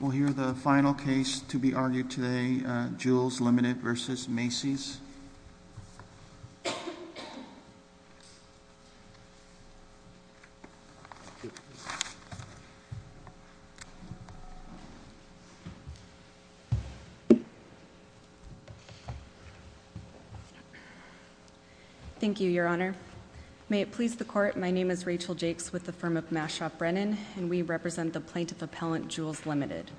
We'll hear the final case to be argued today, Joules Limited v. Macy's. Thank you, Your Honor. May it please the court, my name is Rachel Jakes with the firm of Mashaw Brennan. And we represent the Plaintiff Appellant Joules Limited.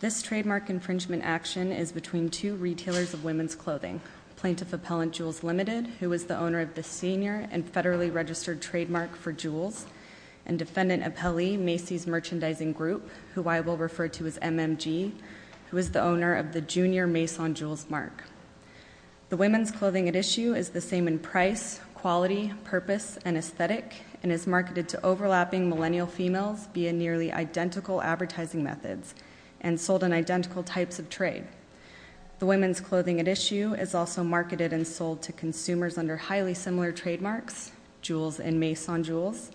This trademark infringement action is between two retailers of women's clothing. Plaintiff Appellant Joules Limited, who is the owner of the senior and federally registered trademark for Joules. And defendant appellee, Macy's Merchandising Group, who I will refer to as MMG, who is the owner of the Junior Mason Joules Mark. The women's clothing at issue is the same in price, quality, purpose, and aesthetic. And is marketed to overlapping millennial females via nearly identical advertising methods. And sold in identical types of trade. The women's clothing at issue is also marketed and sold to consumers under highly similar trademarks, Joules and Mason Joules.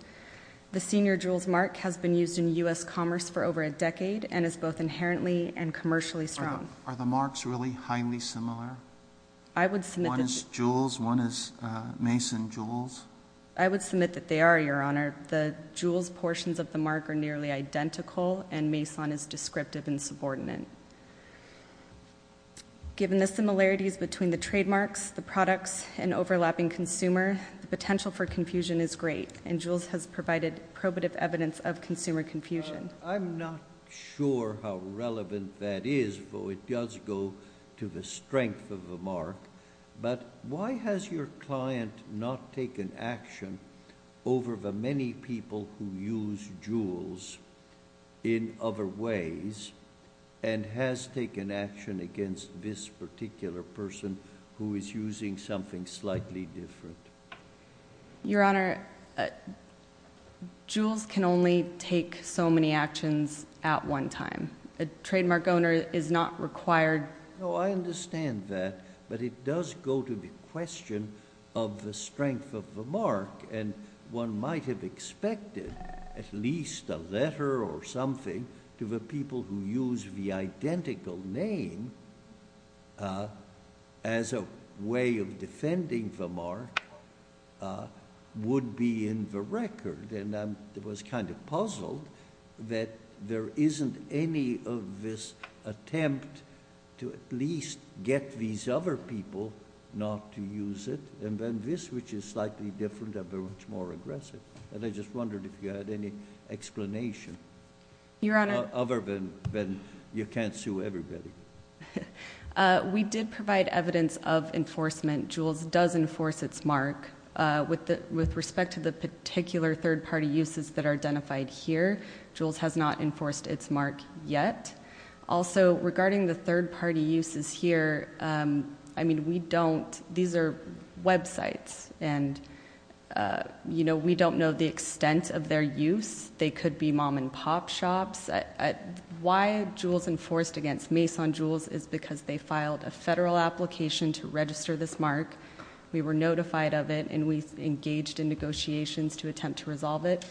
The Senior Joules Mark has been used in US commerce for over a decade and is both inherently and commercially strong. Are the marks really highly similar? I would submit that- One is Joules, one is Mason Joules. I would submit that they are, your honor. The Joules portions of the mark are nearly identical, and Mason is descriptive and subordinate. Given the similarities between the trademarks, the products, and overlapping consumer, the potential for confusion is great, and Joules has provided probative evidence of consumer confusion. I'm not sure how relevant that is, though it does go to the strength of the mark. But why has your client not taken action over the many people who use Joules in other ways? And has taken action against this particular person who is using something slightly different? Your honor, Joules can only take so many actions at one time. A trademark owner is not required- No, I understand that, but it does go to the question of the strength of the mark. And one might have expected at least a letter or something to the people who use the identical name as a way of defending the mark would be in the record. And I was kind of puzzled that there isn't any of this attempt to at least get these other people not to use it. And then this, which is slightly different and very much more aggressive. And I just wondered if you had any explanation. Your honor- Other than you can't sue everybody. We did provide evidence of enforcement. Joules does enforce its mark with respect to the particular third party uses that are identified here. Joules has not enforced its mark yet. Also, regarding the third party uses here, I mean we don't, these are websites and we don't know the extent of their use. They could be mom and pop shops. Why Joules enforced against Mason Joules is because they filed a federal application to register this mark. We were notified of it and we engaged in negotiations to attempt to resolve it.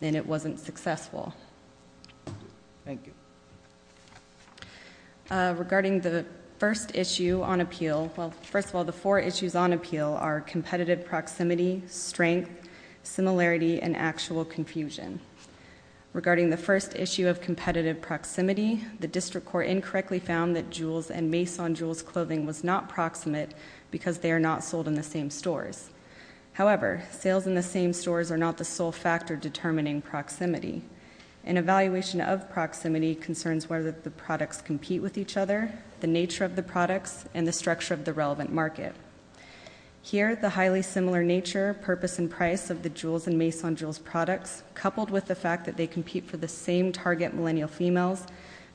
And it wasn't successful. Thank you. Regarding the first issue on appeal, well, first of all, the four issues on appeal are competitive proximity, strength, similarity, and actual confusion. Regarding the first issue of competitive proximity, the district court incorrectly found that Joules and Mason Joules clothing was not proximate because they are not sold in the same stores. However, sales in the same stores are not the sole factor determining proximity. An evaluation of proximity concerns whether the products compete with each other, the nature of the products, and the structure of the relevant market. Here, the highly similar nature, purpose, and price of the Joules and Mason Joules products, coupled with the fact that they compete for the same target millennial females,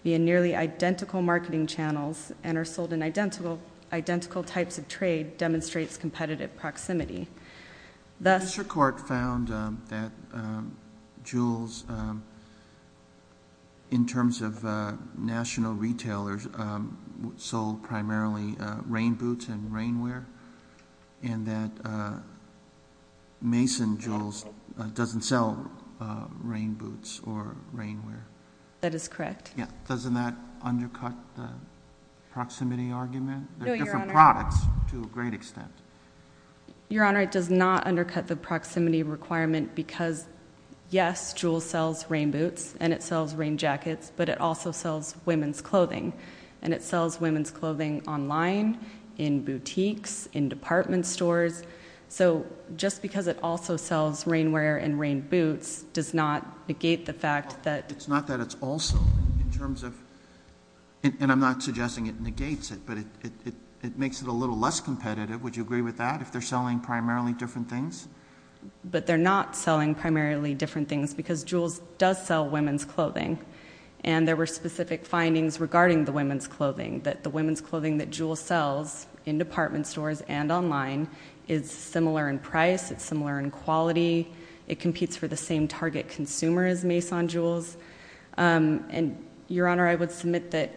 via nearly identical marketing channels, and are sold in identical types of trade, demonstrates competitive proximity. The- The district court found that Joules, in terms of national retailers, sold primarily rain boots and rain wear, and that Mason Joules doesn't sell rain boots or rain wear. That is correct. Yeah, doesn't that undercut the proximity argument? There are different products to a great extent. Your Honor, it does not undercut the proximity requirement because, yes, Joules sells rain boots, and it sells rain jackets, but it also sells women's clothing. And it sells women's clothing online, in boutiques, in department stores. So just because it also sells rain wear and rain boots does not negate the fact that- It's not that it's also, in terms of, and I'm not suggesting it negates it, but it makes it a little less competitive, would you agree with that, if they're selling primarily different things? But they're not selling primarily different things, because Joules does sell women's clothing. And there were specific findings regarding the women's clothing, that the women's clothing that Joule sells, in department stores and online, is similar in price, it's similar in quality. It competes for the same target consumer as Mason Joules. And, Your Honor, I would submit that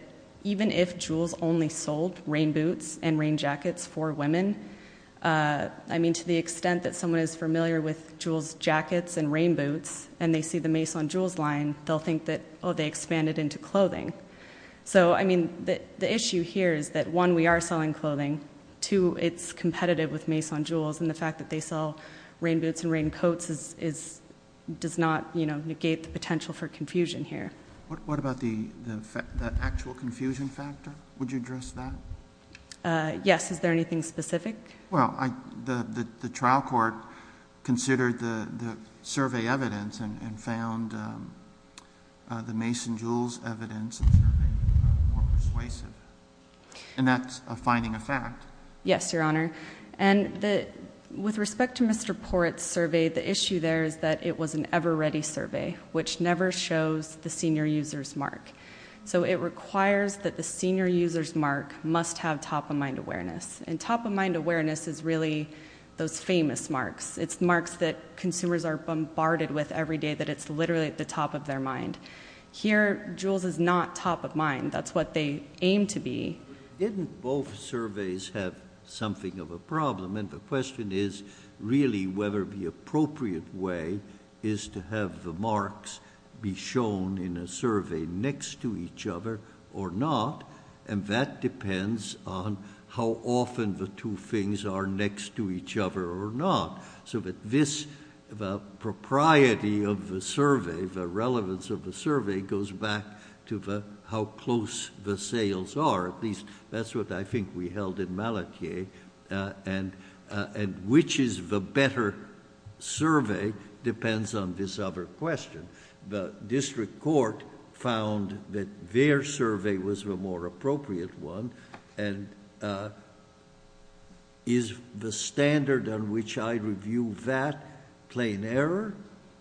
even if Joules only sold rain boots and rain jackets for women, I mean, to the extent that someone is familiar with Joule's jackets and rain boots, and they see the Mason Joules line, they'll think that, oh, they expanded into clothing. So, I mean, the issue here is that, one, we are selling clothing. Two, it's competitive with Mason Joules, and the fact that they sell rain boots and rain coats does not negate the potential for confusion here. What about the actual confusion factor? Would you address that? Yes, is there anything specific? Well, the trial court considered the survey evidence and found the Mason Joules evidence more persuasive, and that's a finding of fact. Yes, Your Honor. And with respect to Mr. Porrett's survey, the issue there is that it was an ever ready survey, which never shows the senior user's mark, so it requires that the senior user's mark must have top of mind awareness. And top of mind awareness is really those famous marks. It's marks that consumers are bombarded with every day, that it's literally at the top of their mind. Here, Joules is not top of mind. That's what they aim to be. Didn't both surveys have something of a problem? And the question is really whether the appropriate way is to have the marks be shown in a survey next to each other or not. And that depends on how often the two things are next to each other or not. So that this, the propriety of the survey, the relevance of the survey goes back to how close the sales are. That's what I think we held in Malatier, and which is the better survey depends on this other question. The district court found that their survey was the more appropriate one, and is the standard on which I review that plain error,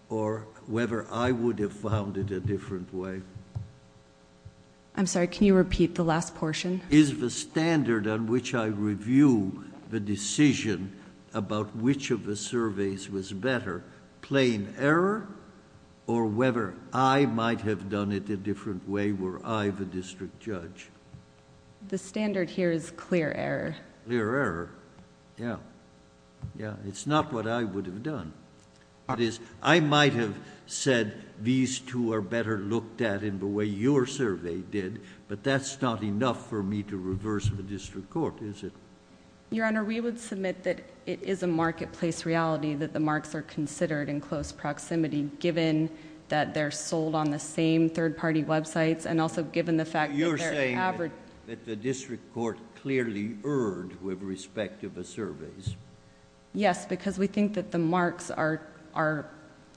or whether I would have found it a different way? I'm sorry, can you repeat the last portion? Is the standard on which I review the decision about which of the surveys was better, plain error, or whether I might have done it a different way, were I the district judge? The standard here is clear error. Clear error, yeah. Yeah, it's not what I would have done. That is, I might have said these two are better looked at in the way your survey did, but that's not enough for me to reverse the district court, is it? Your Honor, we would submit that it is a marketplace reality that the marks are considered in close proximity, given that they're sold on the same third party websites, and also given the fact that they're... You're saying that the district court clearly erred with respect to the surveys? Yes, because we think that the marks are,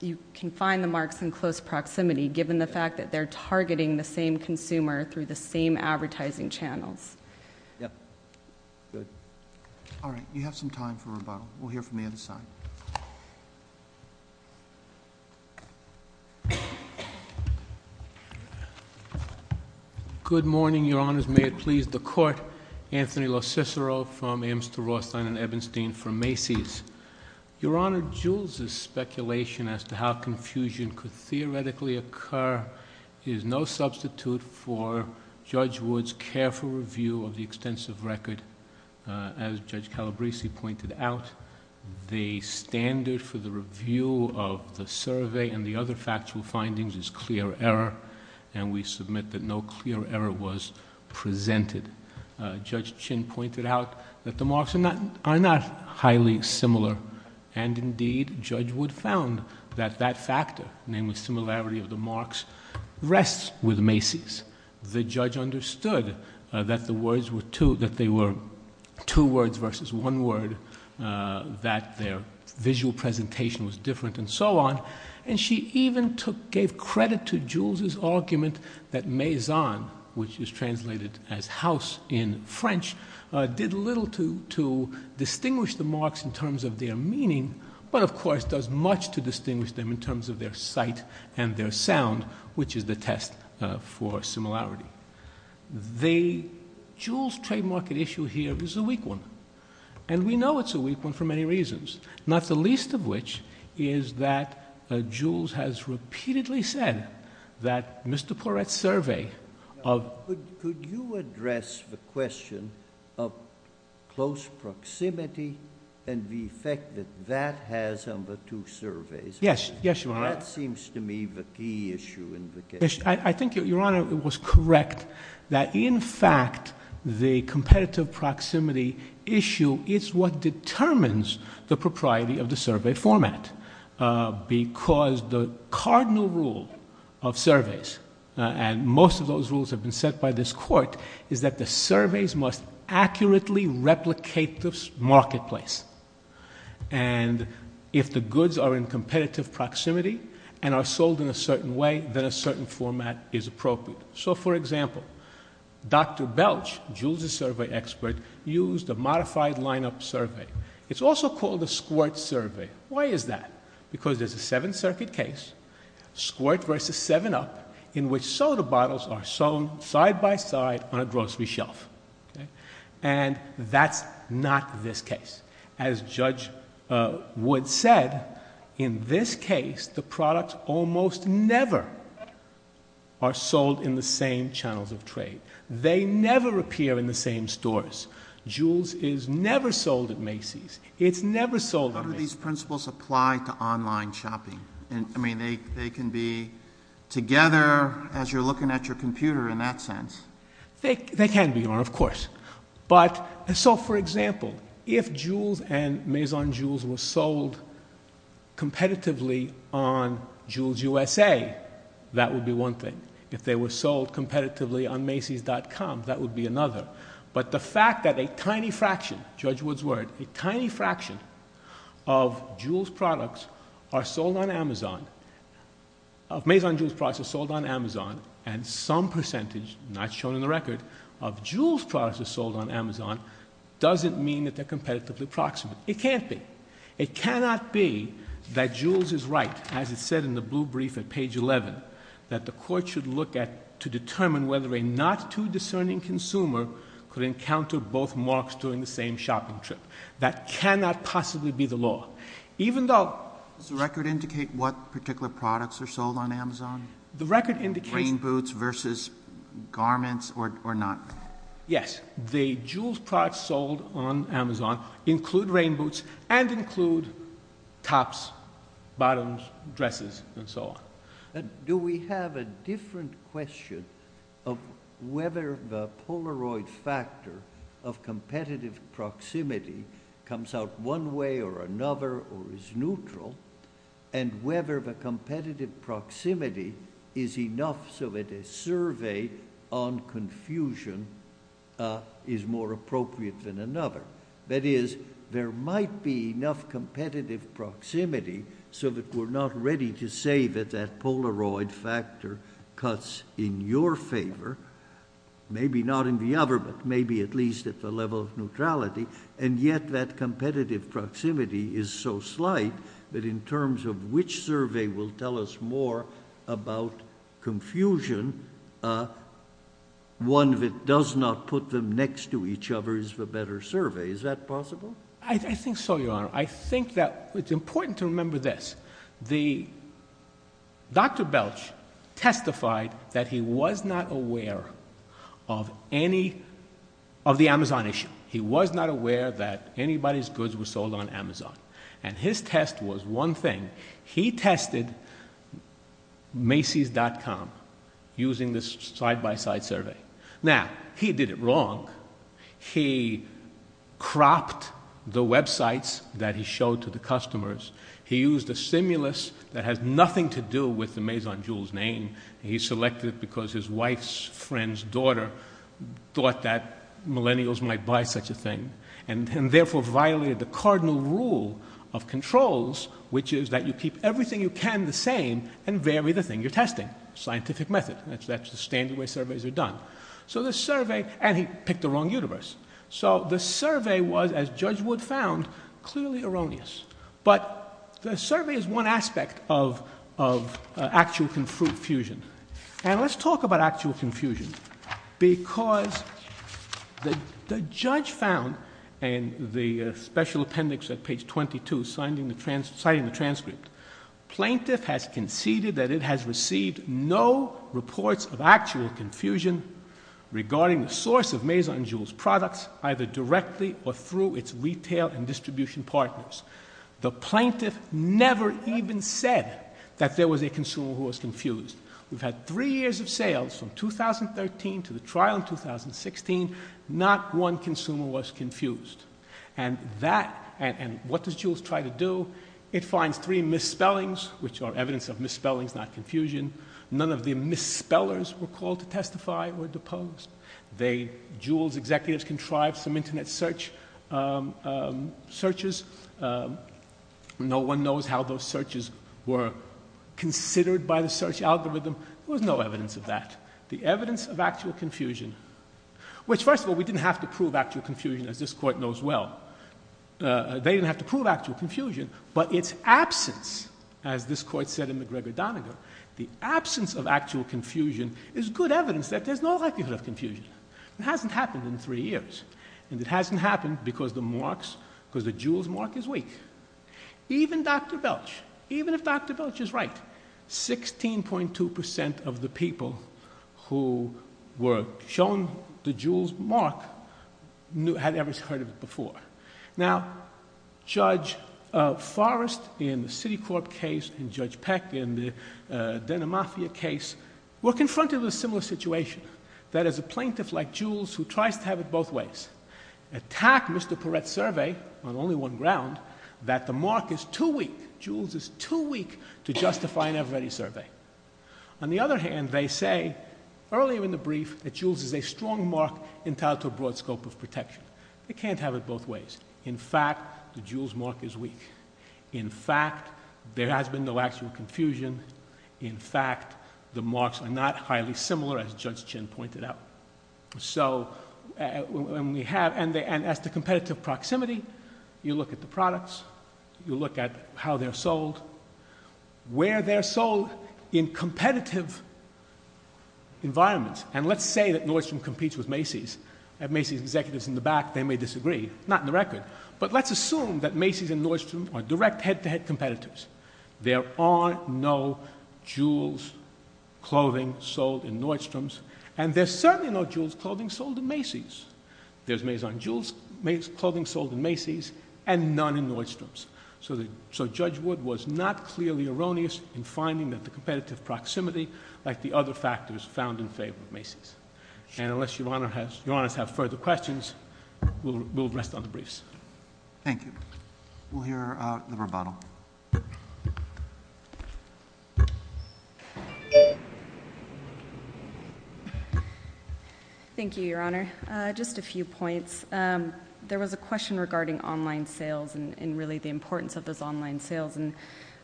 you can find the marks in close proximity, given the fact that they're targeting the same consumer through the same advertising channels. Yep. Good. All right, you have some time for rebuttal. We'll hear from the other side. Good morning, Your Honors. May it please the court, Anthony LoCicero from Ames to Rothstein and Ebenstein for Macy's. Your Honor, Jules' speculation as to how confusion could theoretically occur is no substitute for Judge Wood's careful review of the extensive record, as Judge Calabresi pointed out. The standard for the review of the survey and the other factual findings is clear error, and we submit that no clear error was presented. Judge Chin pointed out that the marks are not highly similar, and indeed, Judge Wood found that that factor, namely similarity of the marks, rests with Macy's. The judge understood that the words were two, that they were two words versus one word, that their visual presentation was different, and so on. And she even gave credit to Jules' argument that Maison, which is translated as house in French, did little to distinguish the marks in terms of their meaning. But of course, does much to distinguish them in terms of their sight and their sound, which is the test for similarity. The Jules trade market issue here is a weak one, and we know it's a weak one for many reasons. Not the least of which is that Jules has repeatedly said that Mr. Porrett's survey of- Could you address the question of close proximity and the effect that that has on the two surveys? Yes, yes, Your Honor. That seems to me the key issue in the case. I think, Your Honor, it was correct that in fact, the competitive proximity issue is what determines the propriety of the survey format. Because the cardinal rule of surveys, and most of those rules have been set by this court, is that the surveys must accurately replicate the marketplace. And if the goods are in competitive proximity and are sold in a certain way, then a certain format is appropriate. So for example, Dr. Belch, Jules' survey expert, used a modified line-up survey. It's also called a squirt survey. Why is that? Because there's a seven circuit case, squirt versus seven up, in which soda bottles are sold side by side on a grocery shelf, and that's not this case. As Judge Wood said, in this case, the products almost never are sold in the same channels of trade. They never appear in the same stores. Jules is never sold at Macy's. It's never sold at Macy's. How do these principles apply to online shopping? I mean, they can be together as you're looking at your computer in that sense. They can be, Your Honor, of course. But, so for example, if Jules and Maison Jules were sold competitively on Jules USA, that would be one thing. If they were sold competitively on Macy's.com, that would be another. But the fact that a tiny fraction, Judge Wood's word, a tiny fraction of Jules products are sold on Amazon, of Maison Jules products are sold on Amazon, and some percentage, not shown in the record, of Jules products are sold on Amazon, doesn't mean that they're competitively proximate. It can't be. It cannot be that Jules is right, as it said in the blue brief at page 11, that the court should look at to determine whether a not too discerning consumer could encounter both marks during the same shopping trip. That cannot possibly be the law. Even though- Does the record indicate what particular products are sold on Amazon? The record indicates- Garments or not. Yes. The Jules products sold on Amazon include rain boots and include tops, bottoms, dresses, and so on. Do we have a different question of whether the Polaroid factor of competitive proximity comes out one way or another or is neutral, and whether the competitive proximity is enough so that a survey on confusion is more appropriate than another? That is, there might be enough competitive proximity so that we're not ready to say that that Polaroid factor cuts in your favor, maybe not in the other, but maybe at least at the level of neutrality, and yet that competitive proximity is so slight that in terms of which survey will tell us more about confusion, one that does not put them next to each other is the better survey. Is that possible? I think so, Your Honor. I think that it's important to remember this. Dr. Belch testified that he was not aware of the Amazon issue. He was not aware that anybody's goods were sold on Amazon, and his test was one thing. He tested Macy's.com using this side-by-side survey. Now, he did it wrong. He cropped the websites that he showed to the customers. He used a stimulus that has nothing to do with the Maison Jules name. He selected it because his wife's friend's daughter thought that millennials might buy such a thing, and therefore violated the cardinal rule of controls, which is that you keep everything you can the same and vary the thing you're testing. Scientific method. That's the standard way surveys are done. So the survey—and he picked the wrong universe. So the survey was, as Judge Wood found, clearly erroneous. But the survey is one aspect of actual confusion. And let's talk about actual confusion. Because the judge found in the special appendix at page 22, citing the transcript, plaintiff has conceded that it has received no reports of actual confusion regarding the source of Maison Jules products, either directly or through its retail and distribution partners. The plaintiff never even said that there was a consumer who was confused. We've had three years of sales from 2013 to the trial in 2016. Not one consumer was confused. And that—and what does Jules try to do? It finds three misspellings, which are evidence of misspellings, not confusion. None of the misspellers were called to testify or deposed. They—Jules executives contrived some internet search—searches. No one knows how those searches were considered by the search algorithm. There was no evidence of that. The evidence of actual confusion—which, first of all, we didn't have to prove actual confusion, as this Court knows well. They didn't have to prove actual confusion. But its absence, as this Court said in McGregor-Doniger, the absence of actual confusion is good evidence that there's no likelihood of confusion. It hasn't happened in three years. And it hasn't happened because the marks—because the Jules mark is weak. Even Dr. Belch, even if Dr. Belch is right, 16.2 percent of the people who were shown the Jules mark had ever heard of it before. Now, Judge Forrest in the Citicorp case and Judge Peck in the Denimafia case were confronted with a similar situation, that as a plaintiff like Jules, who tries to have it both ways, attack Mr. Perret's survey on only one ground, that the mark is too weak. Jules is too weak to justify an everybody survey. On the other hand, they say, earlier in the brief, that Jules is a strong mark entitled to a broad scope of protection. They can't have it both ways. In fact, the Jules mark is weak. In fact, there has been no actual confusion. In fact, the marks are not highly similar, as Judge Chin pointed out. So, when we have, and as the competitive proximity, you look at the products, you look at how they're sold, where they're sold in competitive environments. And let's say that Nordstrom competes with Macy's. Have Macy's executives in the back, they may disagree. Not in the record. But let's assume that Macy's and Nordstrom are direct head-to-head competitors. There are no Jules clothing sold in Nordstrom's. And there's certainly no Jules clothing sold in Macy's. There's Maison Jules clothing sold in Macy's, and none in Nordstrom's. So, Judge Wood was not clearly erroneous in finding that the competitive proximity, like the other factors, found in favor of Macy's. And unless Your Honor has, Your Honors have further questions, we'll rest on the briefs. Thank you. We'll hear the rebuttal. Thank you, Your Honor. Just a few points. There was a question regarding online sales and really the importance of those online sales. And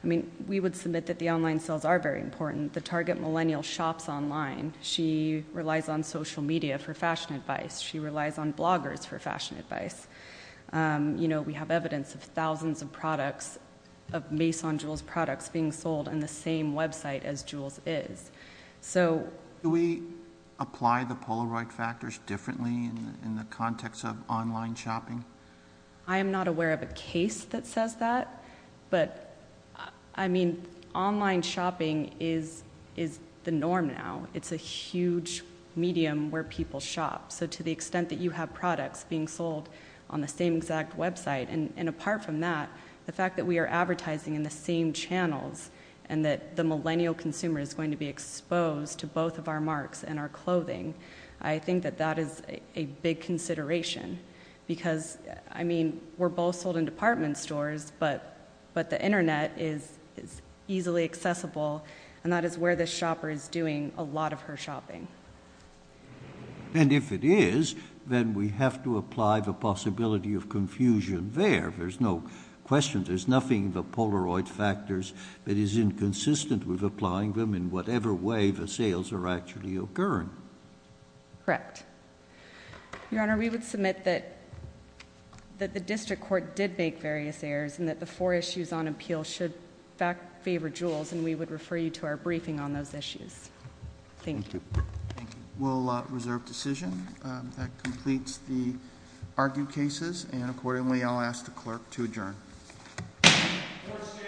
I mean, we would submit that the online sales are very important. The target millennial shops online. She relies on social media for fashion advice. She relies on bloggers for fashion advice. You know, we have evidence of thousands of products, of Maison Jules products being sold on the same website as Jules is. So... Do we apply the Polaroid factors differently in the context of online shopping? I am not aware of a case that says that. But I mean, online shopping is the norm now. It's a huge medium where people shop. So to the extent that you have products being sold on the same exact website. And apart from that, the fact that we are advertising in the same channels, and that the millennial consumer is going to be exposed to both of our marks and our clothing. I think that that is a big consideration. Because, I mean, we're both sold in department stores. But the internet is easily accessible. And that is where this shopper is doing a lot of her shopping. And if it is, then we have to apply the possibility of confusion there. There's no question. But it is inconsistent with applying them in whatever way the sales are actually occurring. Correct. Your Honor, we would submit that the district court did make various errors. And that the four issues on appeal should favor Jules. And we would refer you to our briefing on those issues. Thank you. We'll reserve decision. That completes the argued cases. And accordingly, I'll ask the clerk to adjourn. Court is adjourned.